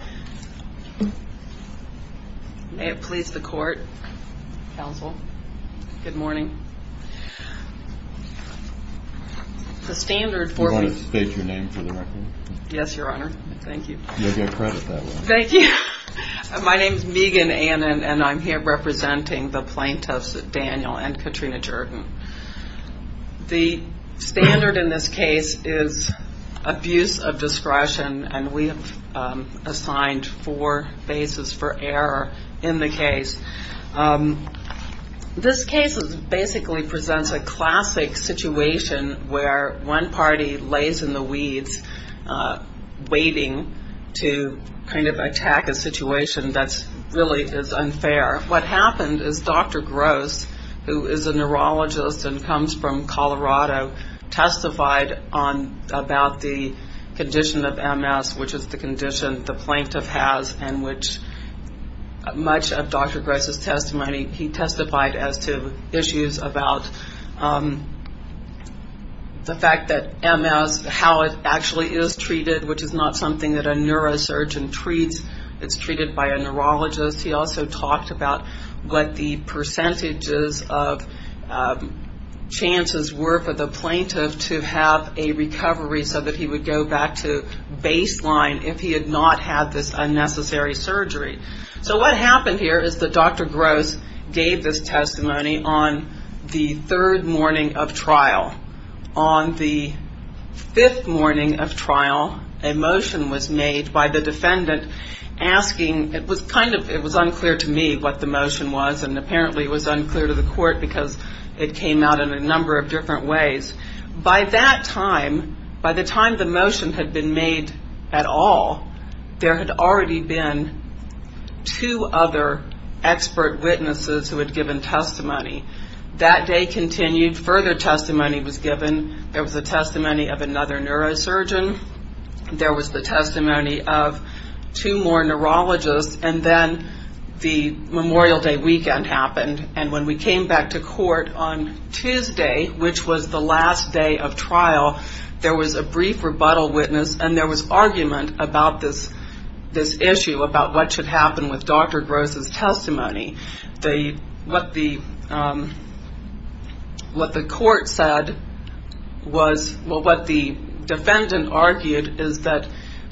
May it please the court, counsel. Good morning. The standard for me... Do you want to state your name for the record? Yes, your honor. Thank you. You'll get credit that way. Thank you. My name is Megan Ann and I'm here representing the plaintiffs, Daniel and Katrina Jerden. The standard in this case is abuse of discretion and we have assigned four bases for error in the case. This case basically presents a classic situation where one party lays in the weeds, waiting to kind of attack a situation that really is unfair. What happened is Dr. Gross, who is a neurologist and comes from Colorado, testified about the condition of MS, which is the condition the plaintiff has, and which much of Dr. Gross' testimony he testified as to issues about the fact that MS, how it actually is treated, which is not something that a neurosurgeon treats. It's treated by a neurologist. He also talked about what the percentages of chances were for the plaintiff to have a recovery so that he would go back to baseline if he had not had this unnecessary surgery. So what happened here is that Dr. Gross gave this testimony on the third morning of trial. On the fifth morning of trial, a motion was made by the defendant asking, it was unclear to me what the motion was and apparently it was unclear to the court because it came out in a number of different ways. By that time, by the time the motion had been made at all, there had already been two other expert witnesses who had given testimony. That day continued. Further testimony was given. There was the testimony of another neurosurgeon. There was the testimony of two more neurologists. And then the Memorial Day weekend happened. And when we came back to court on Tuesday, which was the last day of trial, there was a brief rebuttal witness and there was argument about this issue, about what should happen with Dr. Gross' testimony. What the court said was, well, what the defendant argued is that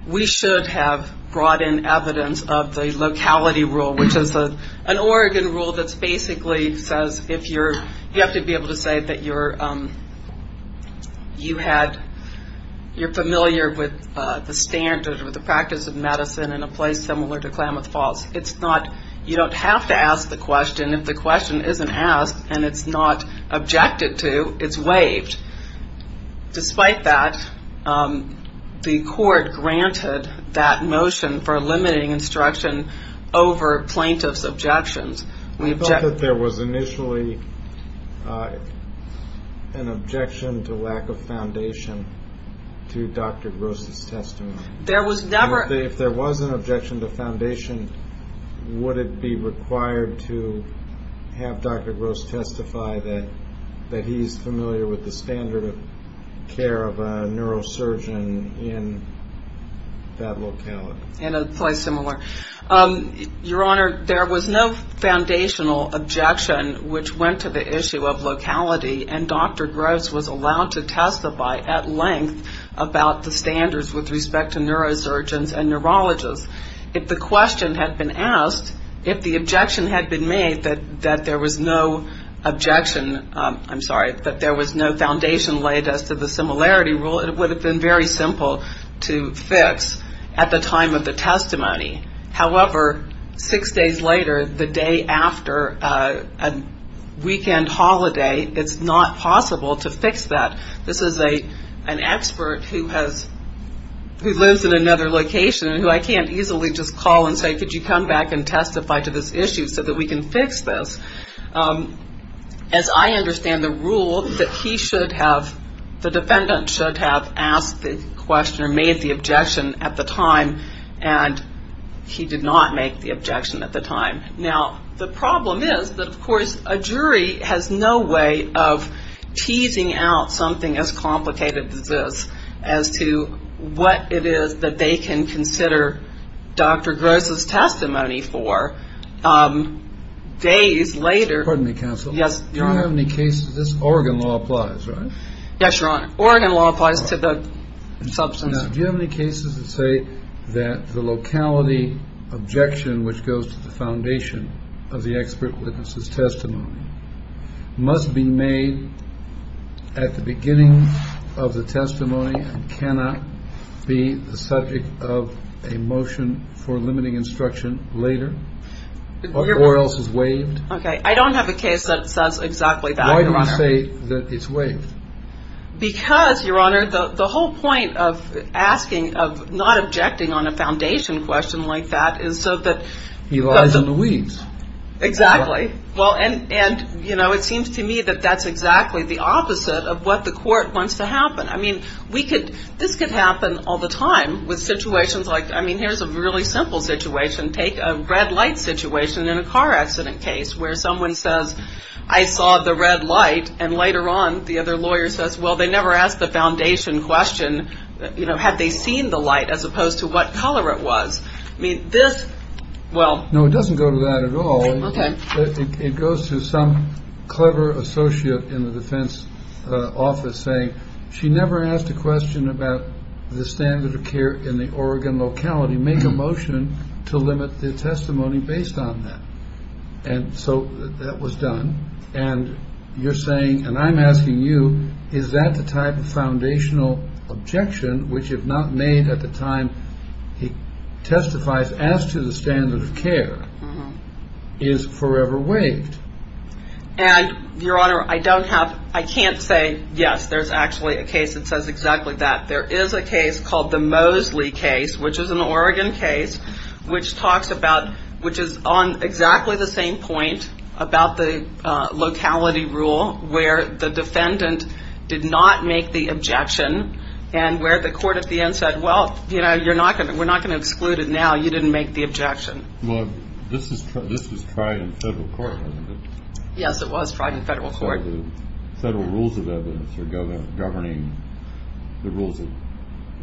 we should have brought in evidence of the locality rule, which is an Oregon rule that basically says if you're, you have to be able to say that you're familiar with the standard or the practice of medicine in a place similar to Klamath Falls. It's not, you don't have to ask the question. If the question isn't asked and it's not objected to, it's waived. Despite that, the court granted that motion for limiting instruction over plaintiff's objections. I thought that there was initially an objection to lack of foundation to Dr. Gross' testimony. There was never. If there was an objection to foundation, would it be required to have Dr. Gross testify that he's familiar with the standard of care of a neurosurgeon in that locality? In a place similar. Your Honor, there was no foundational objection, which went to the issue of locality. And Dr. Gross was allowed to testify at length about the standards with respect to neurosurgeons and neurologists. If the question had been asked, if the objection had been made that there was no objection, I'm sorry, that there was no foundation laid as to the similarity rule, it would have been very simple to fix at the time of the testimony. However, six days later, the day after a weekend holiday, it's not possible to fix that. This is an expert who lives in another location and who I can't easily just call and say, could you come back and testify to this issue so that we can fix this. As I understand the rule, that he should have, the defendant should have asked the question or made the objection at the time, and he did not make the objection at the time. Now, the problem is that, of course, a jury has no way of teasing out something as complicated as this as to what it is that they can consider Dr. Gross' testimony for days later. Excuse me, counsel. Yes, Your Honor. You don't have any cases. This Oregon law applies, right? Yes, Your Honor. Oregon law applies to the substance. Now, do you have any cases that say that the locality objection, which goes to the foundation of the expert witness' testimony, must be made at the beginning of the testimony and cannot be the subject of a motion for limiting instruction later, or else is waived? Okay. I don't have a case that says exactly that, Your Honor. Why do you say that it's waived? Because, Your Honor, the whole point of asking, of not objecting on a foundation question like that is so that he lies in the weeds. Exactly. And, you know, it seems to me that that's exactly the opposite of what the court wants to happen. I mean, this could happen all the time with situations like, I mean, here's a really simple situation. Take a red light situation in a car accident case where someone says, I saw the red light, and later on the other lawyer says, well, they never asked the foundation question, you know, had they seen the light as opposed to what color it was. No, it doesn't go to that at all. Okay. It goes to some clever associate in the defense office saying, she never asked a question about the standard of care in the Oregon locality. Make a motion to limit the testimony based on that. And so that was done. And you're saying, and I'm asking you, is that the type of foundational objection which if not made at the time he testifies as to the standard of care is forever waived? And, Your Honor, I don't have, I can't say, yes, there's actually a case that says exactly that. There is a case called the Mosley case, which is an Oregon case, which talks about, which is on exactly the same point about the locality rule where the defendant did not make the objection and where the court at the end said, well, you know, we're not going to exclude it now. You didn't make the objection. Well, this was tried in federal court, wasn't it? Yes, it was tried in federal court. So the federal rules of evidence are governing the rules of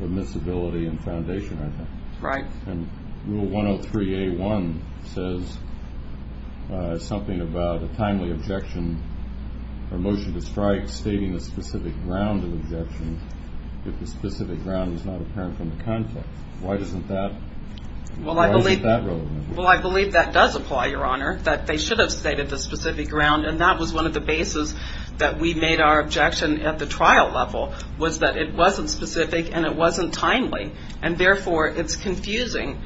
admissibility and foundation, I think. Right. And Rule 103A1 says something about a timely objection or motion to strike stating a specific ground of objection if the specific ground is not apparent from the context. Why isn't that relevant? Well, I believe that does apply, Your Honor, that they should have stated the specific ground and that was one of the bases that we made our objection at the trial level was that it wasn't specific and it wasn't timely, and therefore it's confusing.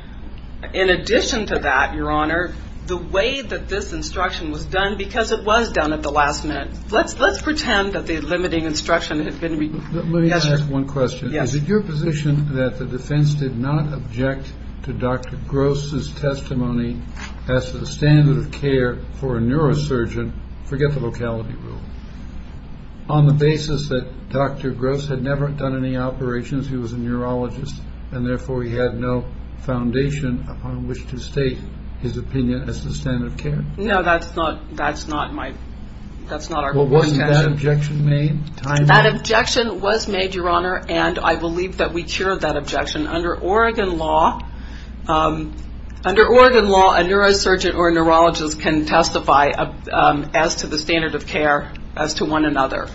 In addition to that, Your Honor, the way that this instruction was done because it was done at the last minute. Let's pretend that the limiting instruction had been written. Let me ask one question. Is it your position that the defense did not object to Dr. Gross' testimony as to the standard of care for a neurosurgeon? Forget the locality rule. On the basis that Dr. Gross had never done any operations, he was a neurologist, and therefore he had no foundation upon which to state his opinion as to standard of care? No, that's not my intention. Well, wasn't that objection made timely? That objection was made, Your Honor, and I believe that we cured that objection. Under Oregon law, a neurosurgeon or a neurologist can testify as to the standard of care as to one another.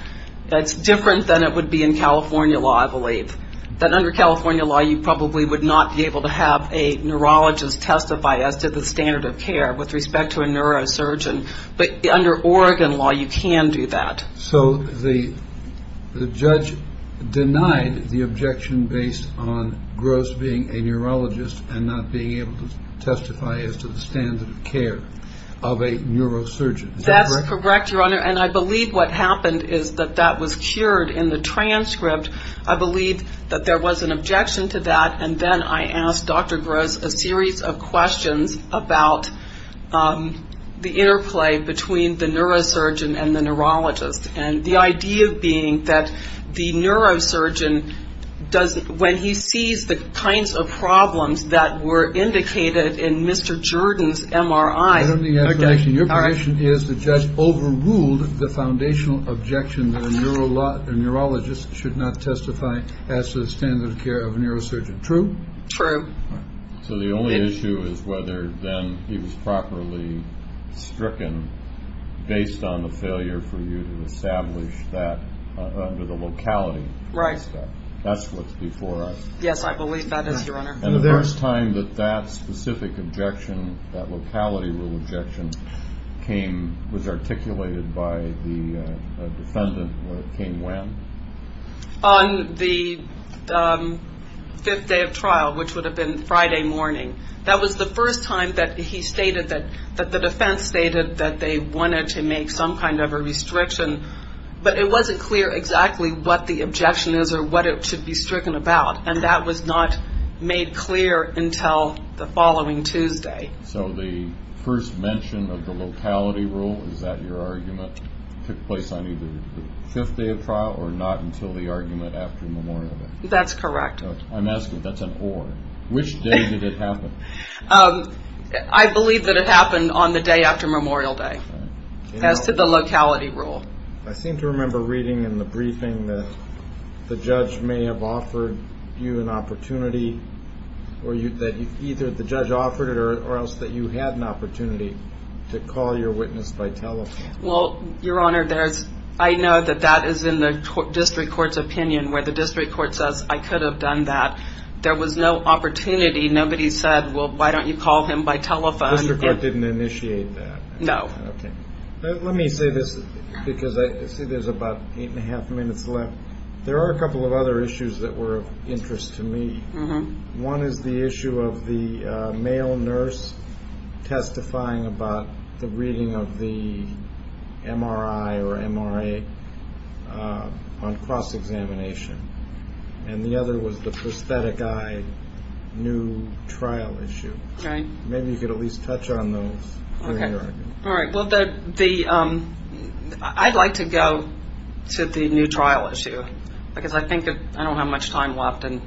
But under California law, you probably would not be able to have a neurologist testify as to the standard of care with respect to a neurosurgeon. But under Oregon law, you can do that. So the judge denied the objection based on Gross being a neurologist and not being able to testify as to the standard of care of a neurosurgeon. Is that correct? That's correct, Your Honor, and I believe what happened is that that was cured in the transcript. I believe that there was an objection to that, and then I asked Dr. Gross a series of questions about the interplay between the neurosurgeon and the neurologist, and the idea being that the neurosurgeon, when he sees the kinds of problems that were indicated in Mr. Jordan's MRI. Your question is the judge overruled the foundational objection that a neurologist should not testify as to the standard of care of a neurosurgeon. True? True. So the only issue is whether then he was properly stricken based on the failure for you to establish that under the locality. Right. That's what's before us. Yes, I believe that is, Your Honor. And the first time that that specific objection, that locality rule objection, was articulated by the defendant came when? On the fifth day of trial, which would have been Friday morning. That was the first time that he stated that the defense stated that they wanted to make some kind of a restriction, but it wasn't clear exactly what the objection is or what it should be stricken about, and that was not made clear until the following Tuesday. So the first mention of the locality rule, is that your argument? It took place on either the fifth day of trial or not until the argument after Memorial Day? That's correct. I'm asking if that's an or. Which day did it happen? I believe that it happened on the day after Memorial Day as to the locality rule. I seem to remember reading in the briefing that the judge may have offered you an opportunity, or that either the judge offered it or else that you had an opportunity to call your witness by telephone. Well, Your Honor, I know that that is in the district court's opinion, where the district court says, I could have done that. There was no opportunity. Nobody said, well, why don't you call him by telephone? The district court didn't initiate that? No. Let me say this, because I see there's about eight and a half minutes left. There are a couple of other issues that were of interest to me. One is the issue of the male nurse testifying about the reading of the MRI or MRA on cross-examination, and the other was the prosthetic eye new trial issue. Maybe you could at least touch on those. All right. Well, I'd like to go to the new trial issue, because I think that I don't have much time left. And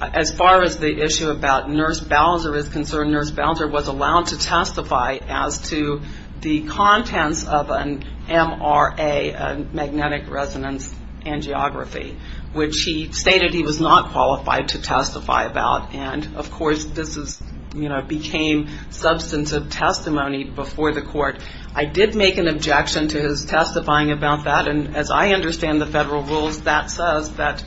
as far as the issue about Nurse Bowser is concerned, Nurse Bowser was allowed to testify as to the contents of an MRA, a magnetic resonance angiography, which he stated he was not qualified to testify about. And, of course, this became substantive testimony before the court. I did make an objection to his testifying about that, and as I understand the federal rules, that says that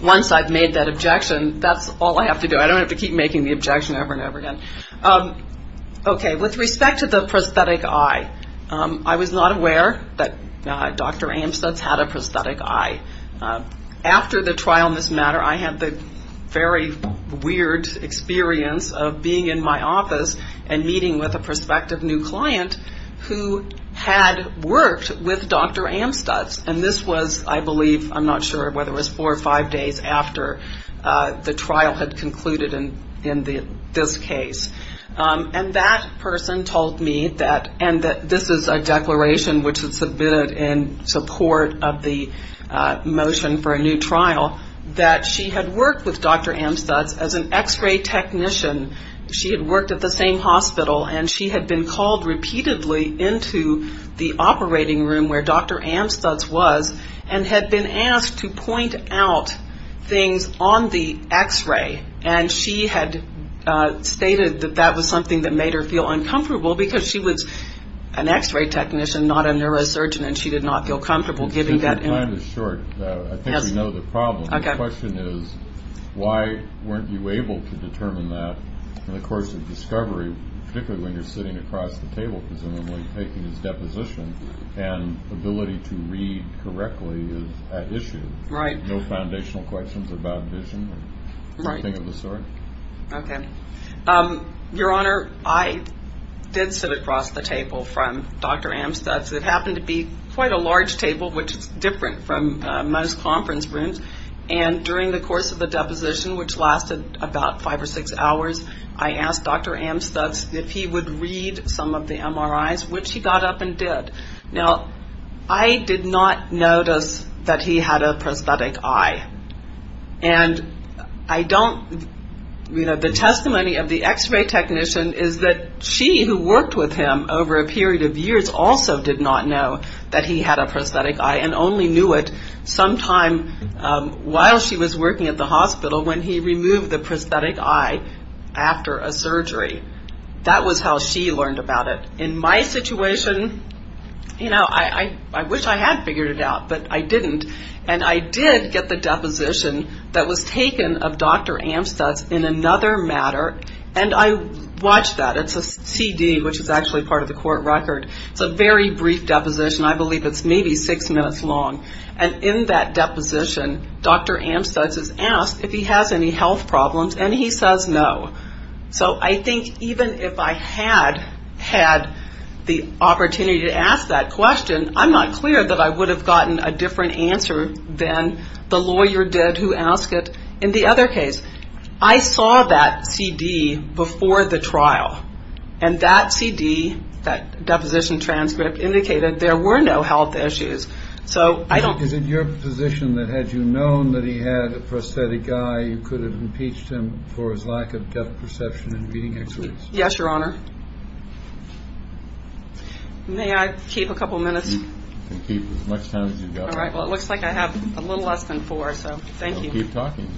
once I've made that objection, that's all I have to do. I don't have to keep making the objection over and over again. Okay. With respect to the prosthetic eye, I was not aware that Dr. Amstutz had a prosthetic eye. After the trial in this matter, I had the very weird experience of being in my office and meeting with a prospective new client who had worked with Dr. Amstutz. And this was, I believe, I'm not sure whether it was four or five days after the trial had concluded in this case. And that person told me that, and this is a declaration which was submitted in support of the motion for a new trial, that she had worked with Dr. Amstutz as an x-ray technician. She had worked at the same hospital, and she had been called repeatedly into the operating room where Dr. Amstutz was and had been asked to point out things on the x-ray. And she had stated that that was something that made her feel uncomfortable because she was an x-ray technician, not a neurosurgeon, and she did not feel comfortable giving that. Your time is short. I think we know the problem. Okay. The question is, why weren't you able to determine that in the course of discovery, particularly when you're sitting across the table presumably taking this deposition, and ability to read correctly is at issue. Right. No foundational questions about vision. Right. Nothing of the sort. Okay. Your Honor, I did sit across the table from Dr. Amstutz. It happened to be quite a large table, which is different from most conference rooms. And during the course of the deposition, which lasted about five or six hours, I asked Dr. Amstutz if he would read some of the MRIs, which he got up and did. Now, I did not notice that he had a prosthetic eye. And I don't, you know, the testimony of the x-ray technician is that she, who worked with him over a period of years, also did not know that he had a prosthetic eye and only knew it sometime while she was working at the hospital when he removed the prosthetic eye after a surgery. That was how she learned about it. In my situation, you know, I wish I had figured it out, but I didn't. And I did get the deposition that was taken of Dr. Amstutz in another matter, and I watched that. It's a CD, which is actually part of the court record. It's a very brief deposition. I believe it's maybe six minutes long. And in that deposition, Dr. Amstutz is asked if he has any health problems, and he says no. So I think even if I had had the opportunity to ask that question, I'm not clear that I would have gotten a different answer than the lawyer did who asked it in the other case. I saw that CD before the trial, and that CD, that deposition transcript, indicated there were no health issues. So I don't. Is it your position that had you known that he had a prosthetic eye, you could have impeached him for his lack of depth perception in reading x-rays? Yes, Your Honor. May I keep a couple minutes? You can keep as much time as you'd like. All right. Well, it looks like I have a little less than four, so thank you. Well, keep talking.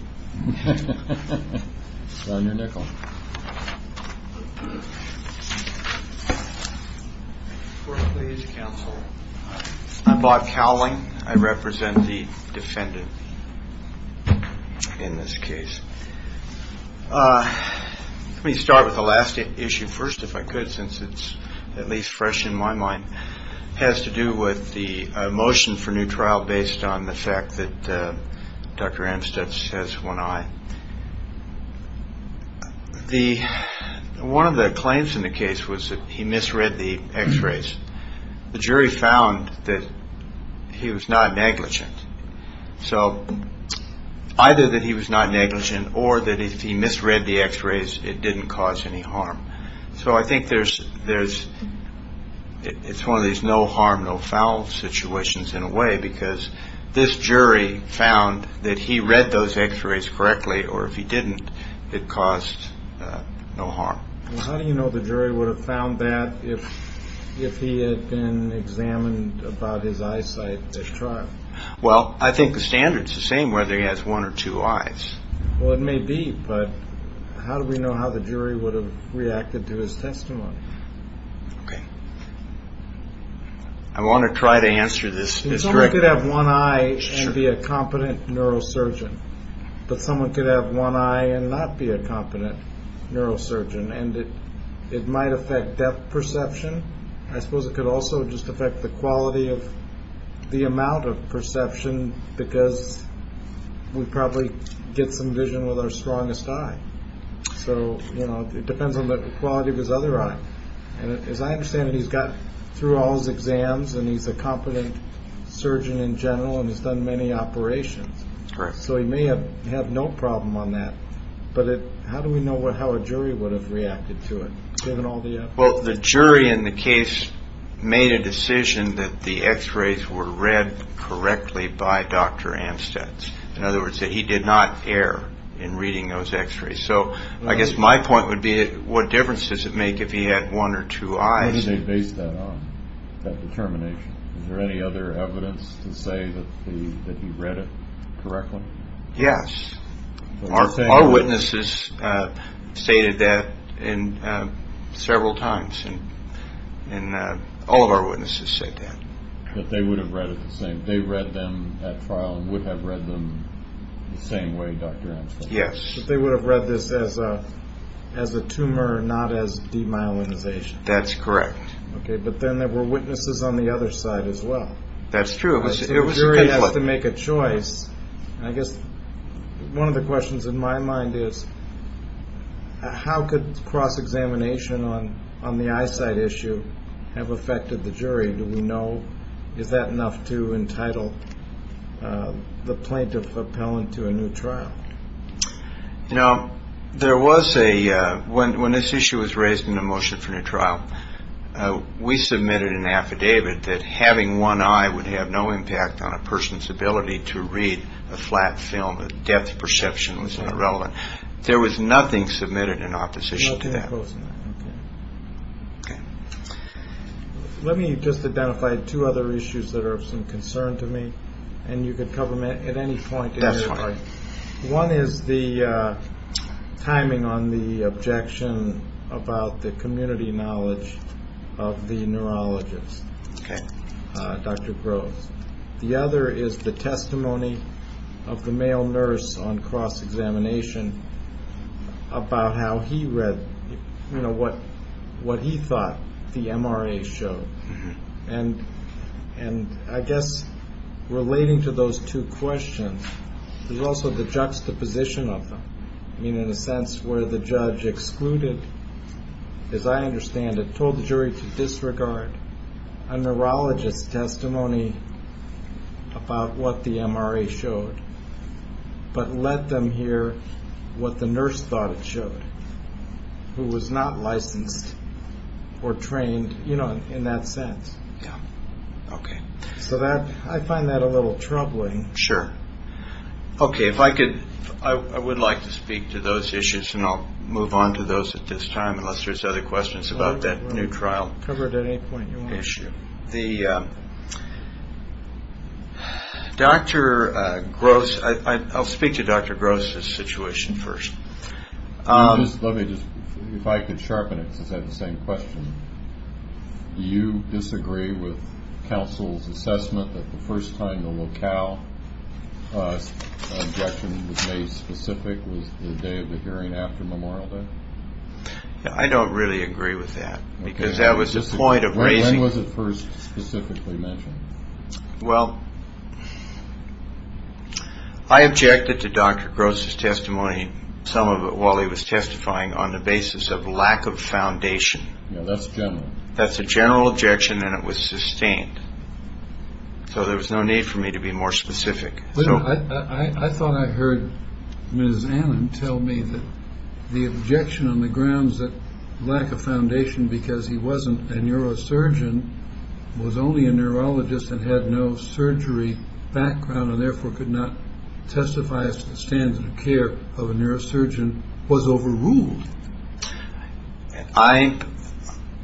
It's on your nickel. Court, please. Counsel. I'm Bob Cowling. I represent the defendant in this case. Let me start with the last issue first, if I could, since it's at least fresh in my mind. It has to do with the motion for new trial based on the fact that Dr. Amstutz has one eye. One of the claims in the case was that he misread the x-rays. The jury found that he was not negligent. So either that he was not negligent or that if he misread the x-rays, it didn't cause any harm. So I think there's one of these no harm, no foul situations in a way because this jury found that he read those x-rays correctly, or if he didn't, it caused no harm. How do you know the jury would have found that if he had been examined about his eyesight at trial? Well, I think the standard's the same whether he has one or two eyes. Well, it may be, but how do we know how the jury would have reacted to his testimony? Okay. I want to try to answer this correctly. Someone could have one eye and be a competent neurosurgeon, but someone could have one eye and not be a competent neurosurgeon, and it might affect depth perception. I suppose it could also just affect the quality of the amount of perception because we'd probably get some vision with our strongest eye. So, you know, it depends on the quality of his other eye. And as I understand it, he's gotten through all his exams, and he's a competent surgeon in general and has done many operations. Correct. So he may have had no problem on that. But how do we know how a jury would have reacted to it, given all the evidence? Well, the jury in the case made a decision that the X-rays were read correctly by Dr. Amstutz. In other words, that he did not err in reading those X-rays. So I guess my point would be what difference does it make if he had one or two eyes? He may have based that on that determination. Is there any other evidence to say that he read it correctly? Yes. Our witnesses stated that several times, and all of our witnesses said that. That they would have read it the same. They read them at trial and would have read them the same way Dr. Amstutz. Yes. That they would have read this as a tumor, not as demyelinization. That's correct. Okay, but then there were witnesses on the other side as well. That's true. The jury has to make a choice. I guess one of the questions in my mind is how could cross-examination on the eyesight issue have affected the jury? Do we know, is that enough to entitle the plaintiff appellant to a new trial? You know, there was a, when this issue was raised in the motion for a new trial, we submitted an affidavit that having one eye would have no impact on a person's ability to read a flat film. The depth of perception was irrelevant. There was nothing submitted in opposition to that. Okay. Let me just identify two other issues that are of some concern to me, and you can cover them at any point. That's fine. One is the timing on the objection about the community knowledge of the neurologist, Dr. Groves. The other is the testimony of the male nurse on cross-examination about how he read, you know, what he thought the MRA showed. And I guess relating to those two questions, there's also the juxtaposition of them, meaning in a sense where the judge excluded, as I understand it, told the jury to disregard a neurologist's testimony about what the MRA showed, but let them hear what the nurse thought it showed, who was not licensed or trained, you know, in that sense. Yeah. Okay. So I find that a little troubling. Sure. Okay, if I could, I would like to speak to those issues, and I'll move on to those at this time, unless there's other questions about that new trial issue. Cover it at any point you want. The Dr. Groves, I'll speak to Dr. Groves' situation first. Let me just, if I could sharpen it, because I have the same question. Do you disagree with counsel's assessment that the first time the locale objection was made specific was the day of the hearing after Memorial Day? I don't really agree with that, because that was the point of raising. When was it first specifically mentioned? Well, I objected to Dr. Groves' testimony, some of it while he was testifying, on the basis of lack of foundation. Yeah, that's general. That's a general objection, and it was sustained. So there was no need for me to be more specific. I thought I heard Ms. Annan tell me that the objection on the grounds that lack of foundation because he wasn't a neurosurgeon, was only a neurologist and had no surgery background and therefore could not testify as to the standard of care of a neurosurgeon was overruled.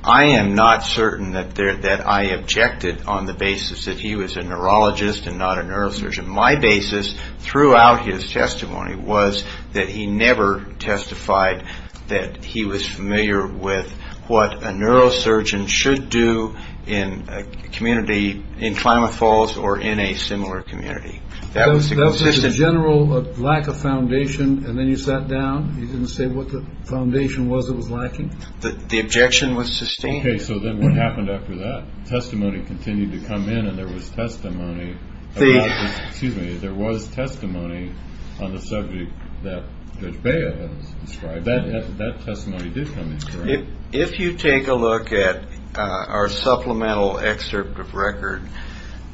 I am not certain that I objected on the basis that he was a neurologist and not a neurosurgeon. My basis throughout his testimony was that he never testified that he was familiar with what a neurosurgeon should do in a community, in Klamath Falls or in a similar community. That was the general lack of foundation, and then you sat down? You didn't say what the foundation was that was lacking? The objection was sustained. Okay, so then what happened after that? Testimony continued to come in, and there was testimony on the subject that Judge Baio has described. That testimony did come in, correct? If you take a look at our supplemental excerpt of record,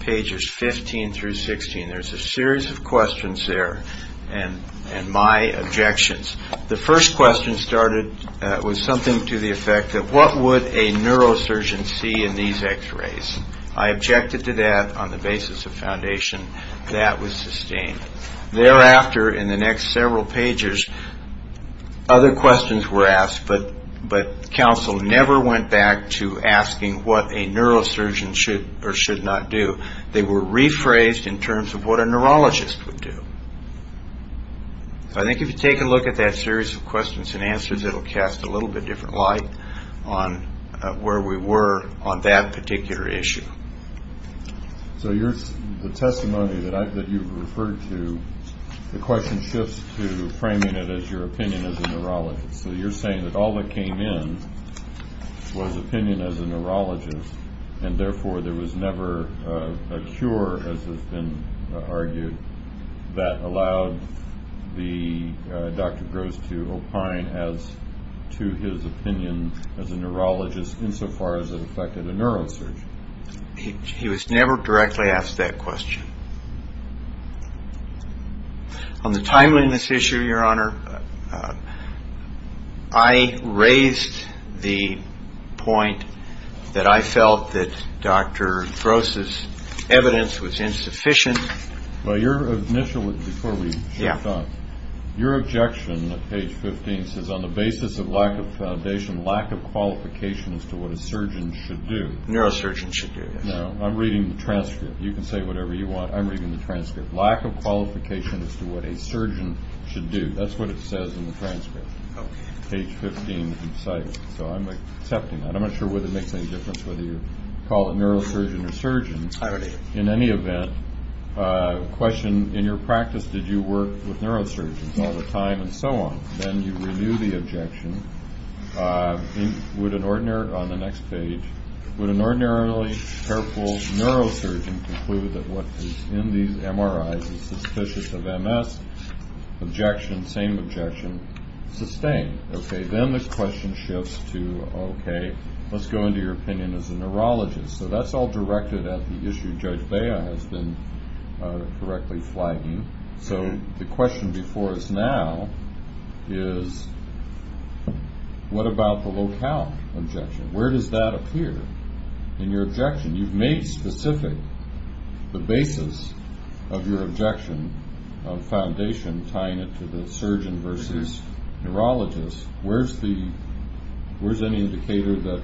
pages 15 through 16, there's a series of questions there and my objections. The first question started with something to the effect that what would a neurosurgeon see in these x-rays? I objected to that on the basis of foundation. That was sustained. Thereafter, in the next several pages, other questions were asked, but counsel never went back to asking what a neurosurgeon should or should not do. They were rephrased in terms of what a neurologist would do. I think if you take a look at that series of questions and answers, it will cast a little bit different light on where we were on that particular issue. So the testimony that you've referred to, the question shifts to framing it as your opinion as a neurologist. So you're saying that all that came in was opinion as a neurologist, and therefore there was never a cure, as has been argued, that allowed Dr. Gross to opine as to his opinion as a neurologist insofar as it affected a neurosurgeon? He was never directly asked that question. On the timeliness issue, Your Honor, I raised the point that I felt that Dr. Gross's evidence was insufficient. Well, your initial, before we shift on, your objection at page 15 says, on the basis of lack of foundation, lack of qualification as to what a surgeon should do. Neurosurgeons should do, yes. Now, I'm reading the transcript. You can say whatever you want. I'm reading the transcript. Lack of qualification as to what a surgeon should do. That's what it says in the transcript, page 15 in the citation. So I'm accepting that. I'm not sure whether it makes any difference whether you call it neurosurgeon or surgeon. In any event, question, in your practice, did you work with neurosurgeons all the time and so on? Then you renew the objection. Would an ordinary, on the next page, would an ordinarily careful neurosurgeon conclude that what is in these MRIs is suspicious of MS? Objection, same objection, sustained. Okay, then the question shifts to, okay, let's go into your opinion as a neurologist. So that's all directed at the issue Judge Bea has been correctly flagging. So the question before us now is what about the locale objection? Where does that appear in your objection? You've made specific the basis of your objection of foundation tying it to the surgeon versus neurologist. Where's any indicator that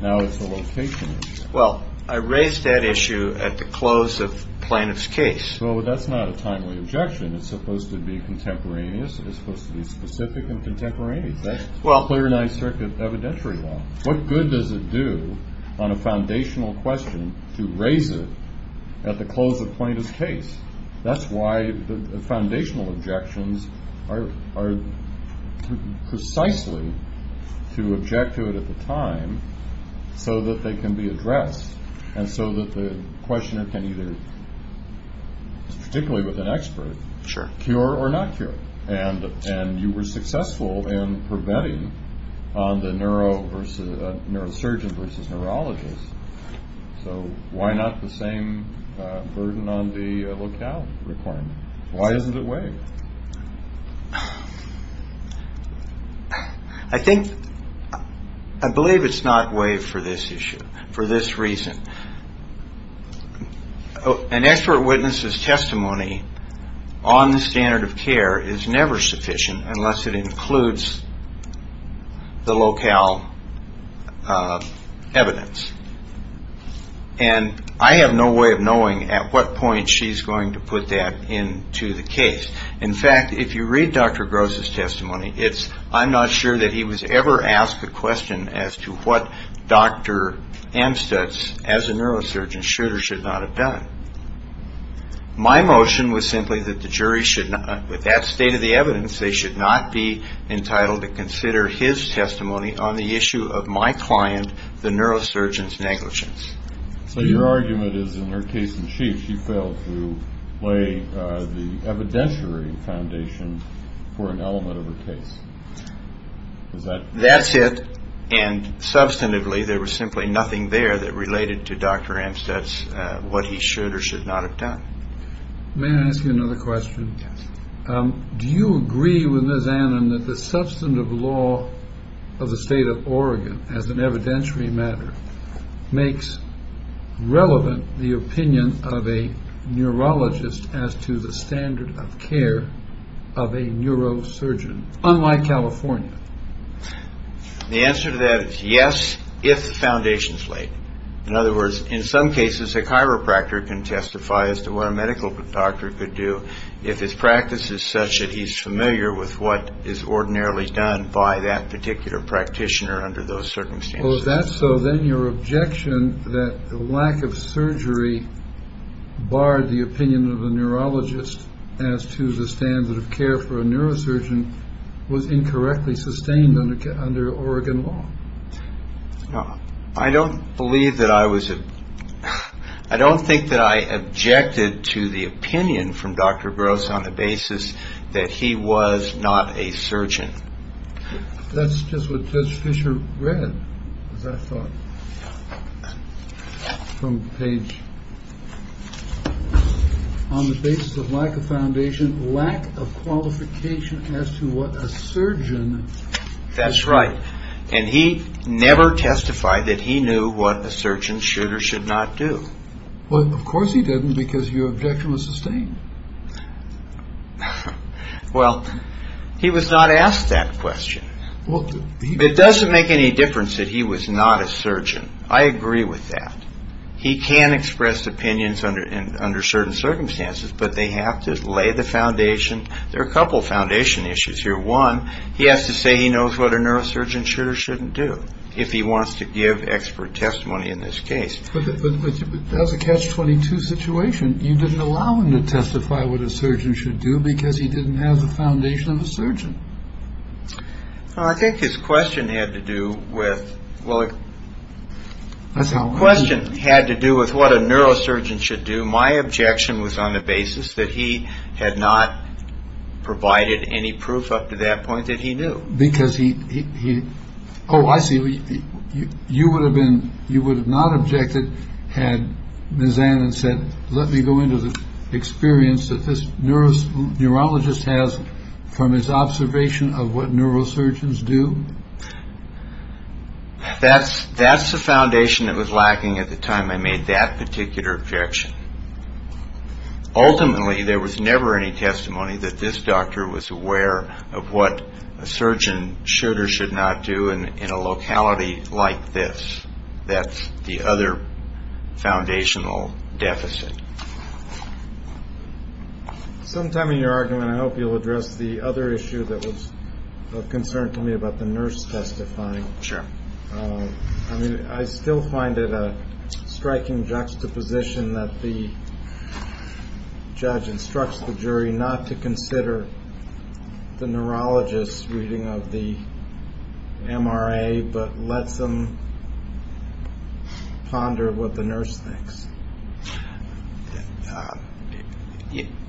now it's the location issue? Well, I raised that issue at the close of Plaintiff's case. Well, that's not a timely objection. It's supposed to be contemporaneous. It's supposed to be specific and contemporaneous. That's clarinized circuit evidentiary law. What good does it do on a foundational question to raise it at the close of Plaintiff's case? That's why the foundational objections are precisely to object to it at the time so that they can be addressed and so that the questioner can either, particularly with an expert, cure or not cure. And you were successful in preventing on the neurosurgeon versus neurologist. So why not the same burden on the locale requirement? Why isn't it waived? I believe it's not waived for this issue, for this reason. An expert witness's testimony on the standard of care is never sufficient unless it includes the locale evidence. And I have no way of knowing at what point she's going to put that into the case. In fact, if you read Dr. Gross' testimony, I'm not sure that he was ever asked the question as to what Dr. Amstutz, as a neurosurgeon, should or should not have done. My motion was simply that the jury should not, with that state of the evidence, they should not be entitled to consider his testimony on the issue of my client, the neurosurgeon's negligence. So your argument is in her case in chief, she failed to lay the evidentiary foundation for an element of her case. That's it. And substantively, there was simply nothing there that related to Dr. Amstutz, what he should or should not have done. May I ask you another question? Do you agree with Ms. Annon that the substantive law of the state of Oregon, as an evidentiary matter, makes relevant the opinion of a neurologist as to the standard of care of a neurosurgeon, unlike California? The answer to that is yes, if the foundation is laid. In other words, in some cases, a chiropractor can testify as to what a medical doctor could do if his practice is such that he's familiar with what is ordinarily done by that particular practitioner under those circumstances. Well, if that's so, then your objection that the lack of surgery barred the opinion of a neurologist as to the standard of care for a neurosurgeon was incorrectly sustained under Oregon law. No, I don't believe that I was. I don't think that I objected to the opinion from Dr. Gross on the basis that he was not a surgeon. That's just what Judge Fisher read, as I thought, from Page. On the basis of lack of foundation, lack of qualification as to what a surgeon. That's right. And he never testified that he knew what a surgeon should or should not do. Well, of course he didn't, because your objection was sustained. Well, he was not asked that question. It doesn't make any difference that he was not a surgeon. I agree with that. He can express opinions under certain circumstances, but they have to lay the foundation. There are a couple of foundation issues here. One, he has to say he knows what a neurosurgeon should or shouldn't do if he wants to give expert testimony in this case. But that's a catch-22 situation. You didn't allow him to testify what a surgeon should do because he didn't have the foundation of a surgeon. Well, I think his question had to do with what a neurosurgeon should do. My objection was on the basis that he had not provided any proof up to that point that he knew. Because he. Oh, I see. You would have been you would have not objected. Had Ms. Allen said, let me go into the experience that this neurosurgeon, neurologist has from his observation of what neurosurgeons do. That's that's the foundation that was lacking at the time I made that particular objection. Ultimately, there was never any testimony that this doctor was aware of what a surgeon should or should not do. And in a locality like this, that's the other foundational deficit. Sometime in your argument, I hope you'll address the other issue that was of concern to me about the nurse testifying. Sure. I mean, I still find it a striking juxtaposition that the judge instructs the jury not to consider the neurologist's reading of the M.R.A., but lets them ponder what the nurse thinks.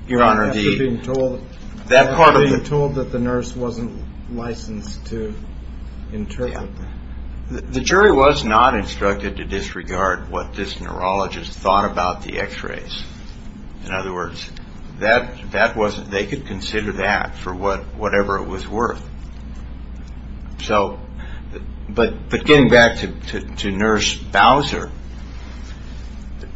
Your Honor, being told that part of the told that the nurse wasn't licensed to interpret. The jury was not instructed to disregard what this neurologist thought about the x-rays. In other words, that that wasn't they could consider that for what whatever it was worth. So but but getting back to nurse Bowser,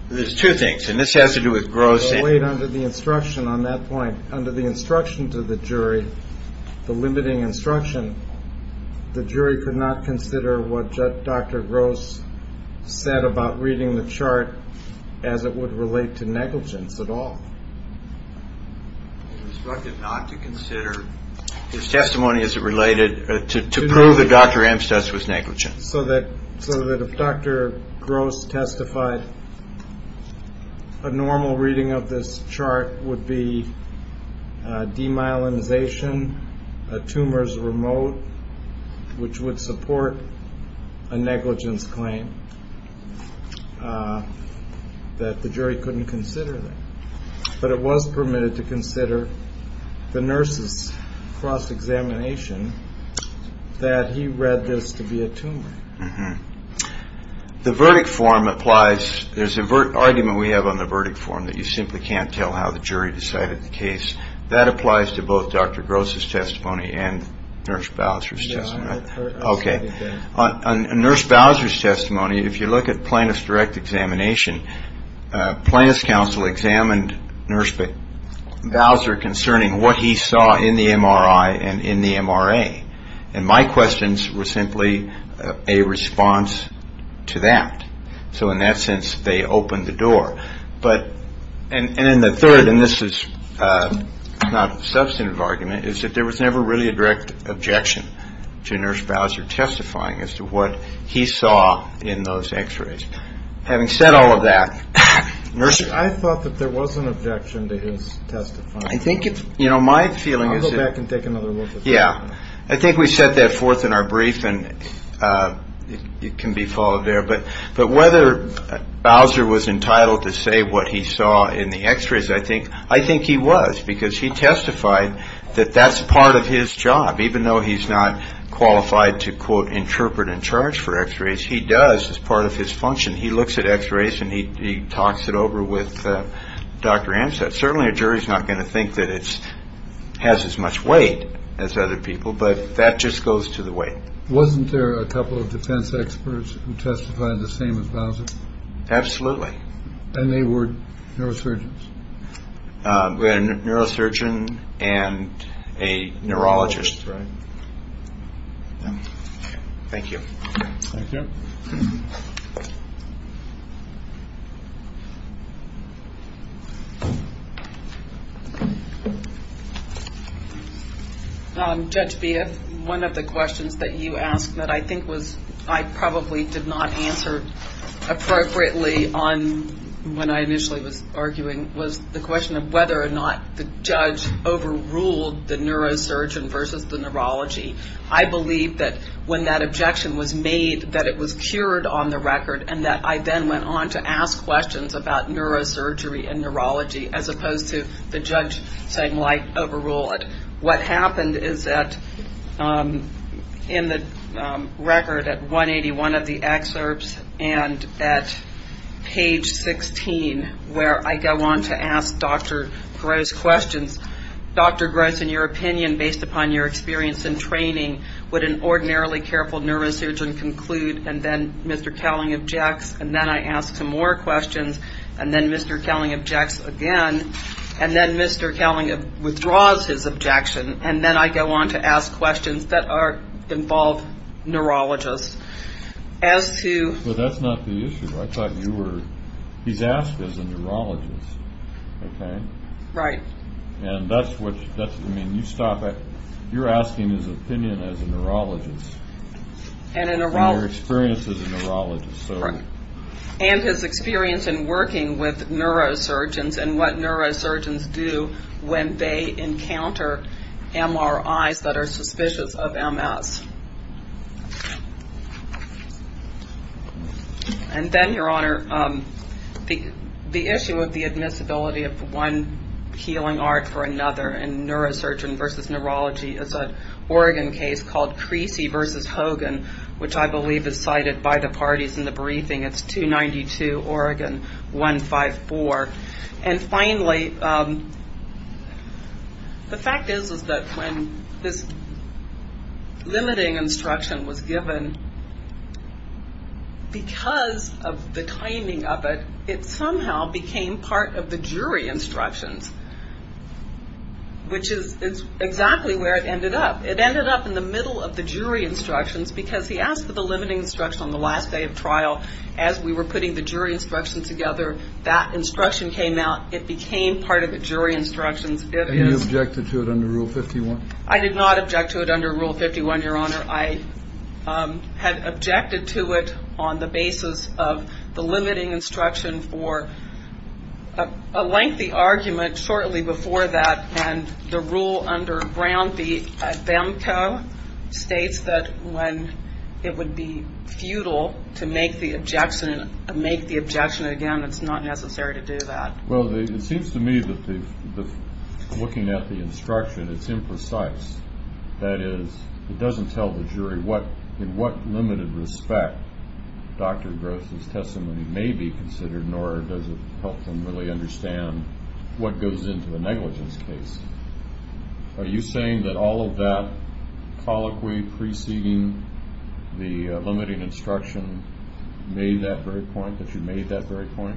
there's two things. And this has to do with gross weight under the instruction on that point, under the instruction to the jury, the limiting instruction. The jury could not consider what Dr. Gross said about reading the chart as it would relate to negligence at all. Not to consider his testimony as it related to prove that Dr. Amstutz was negligent. So that so that if Dr. Gross testified, a normal reading of this chart would be demyelinization tumors remote, which would support a negligence claim that the jury couldn't consider. But it was permitted to consider the nurses cross-examination that he read this to be a tumor. The verdict form applies. There's a argument we have on the verdict form that you simply can't tell how the jury decided the case. That applies to both Dr. Gross's testimony and nurse Bowser's. OK. On nurse Bowser's testimony, if you look at plaintiff's direct examination, plaintiff's counsel examined nurse Bowser concerning what he saw in the MRI and in the MRA. And my questions were simply a response to that. So in that sense, they opened the door. And then the third, and this is not a substantive argument, is that there was never really a direct objection to nurse Bowser testifying as to what he saw in those x-rays. Having said all of that, nurse. I thought that there was an objection to his testifying. I think it's, you know, my feeling is. I'll go back and take another look at that. Yeah. I think we set that forth in our brief and it can be followed there. But but whether Bowser was entitled to say what he saw in the x-rays, I think I think he was because he testified that that's part of his job, even though he's not qualified to, quote, interpret and charge for x-rays. He does as part of his function. He looks at x-rays and he talks it over with Dr. Amstutz. Certainly a jury is not going to think that it has as much weight as other people. But that just goes to the way. Wasn't there a couple of defense experts who testified the same as Bowser? Absolutely. And they were neurosurgeons. We had a neurosurgeon and a neurologist. Right. Thank you. Thank you. Judge Beehive, one of the questions that you asked that I think was I probably did not answer appropriately on when I initially was arguing was the question of whether or not the judge overruled the neurosurgeon versus the neurology. I believe that when that objection was made that it was cured on the record and that I then went on to ask questions about neurosurgery and neurology as opposed to the judge saying, like, overrule it. What happened is that in the record at 181 of the excerpts and at page 16 where I go on to ask Dr. Gross questions, Dr. Gross, in your opinion, based upon your experience in training, would an ordinarily careful neurosurgeon conclude, and then Mr. Cowling objects, and then I ask him more questions, and then Mr. Cowling objects again, and then Mr. Cowling withdraws his objection, and then I go on to ask questions that involve neurologists. As to ñ Well, that's not the issue. I thought you were ñ he's asked as a neurologist, okay? Right. And that's what ñ I mean, you stop at ñ you're asking his opinion as a neurologist. And a ñ And your experience as a neurologist. Right. And his experience in working with neurosurgeons and what neurosurgeons do when they encounter MRIs that are suspicious of MS. And then, Your Honor, the issue of the admissibility of one healing art for another in neurosurgeon versus neurology is an Oregon case called Creasy versus Hogan, which I believe is cited by the parties in the briefing. It's 292 Oregon 154. And finally, the fact is that when this limiting instruction was given, because of the timing of it, it somehow became part of the jury instructions, which is exactly where it ended up. It ended up in the middle of the jury instructions because he asked for the limiting instruction on the last day of trial as we were putting the jury instructions together. That instruction came out. It became part of the jury instructions. And you objected to it under Rule 51? I did not object to it under Rule 51, Your Honor. I had objected to it on the basis of the limiting instruction for a lengthy argument shortly before that. And the rule under Brown v. Adhamco states that when it would be futile to make the objection again, it's not necessary to do that. Well, it seems to me that looking at the instruction, it's imprecise. That is, it doesn't tell the jury in what limited respect Dr. Gross' testimony may be considered, nor does it help them really understand what goes into a negligence case. Are you saying that all of that colloquy preceding the limiting instruction made that very point, that you made that very point?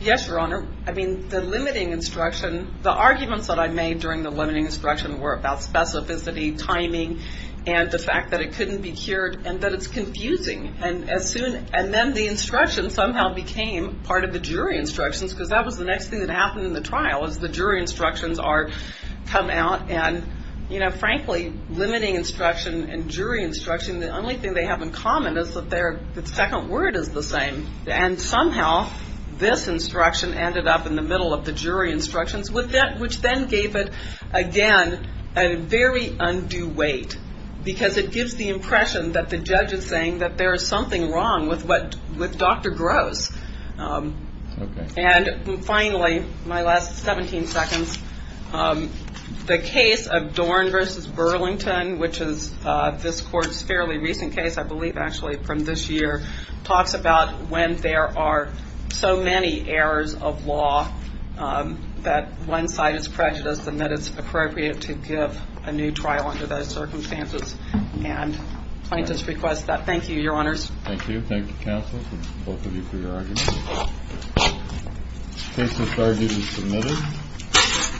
Yes, Your Honor. I mean, the limiting instruction, the arguments that I made during the limiting instruction were about specificity, timing, and the fact that it couldn't be cured and that it's confusing. And then the instruction somehow became part of the jury instructions because that was the next thing that happened in the trial is the jury instructions come out. And, you know, frankly, limiting instruction and jury instruction, the only thing they have in common is that their second word is the same. And somehow this instruction ended up in the middle of the jury instructions, which then gave it, again, a very undue weight because it gives the impression that the judge is saying that there is something wrong with Dr. Gross. And finally, my last 17 seconds, the case of Dorn v. Burlington, which is this court's fairly recent case, I believe actually from this year, talks about when there are so many errors of law that one side is prejudiced and that it's appropriate to give a new trial under those circumstances. And plaintiffs request that. Thank you, Your Honors. Thank you. Thank you, counsel, both of you, for your arguments. The case in charge is submitted.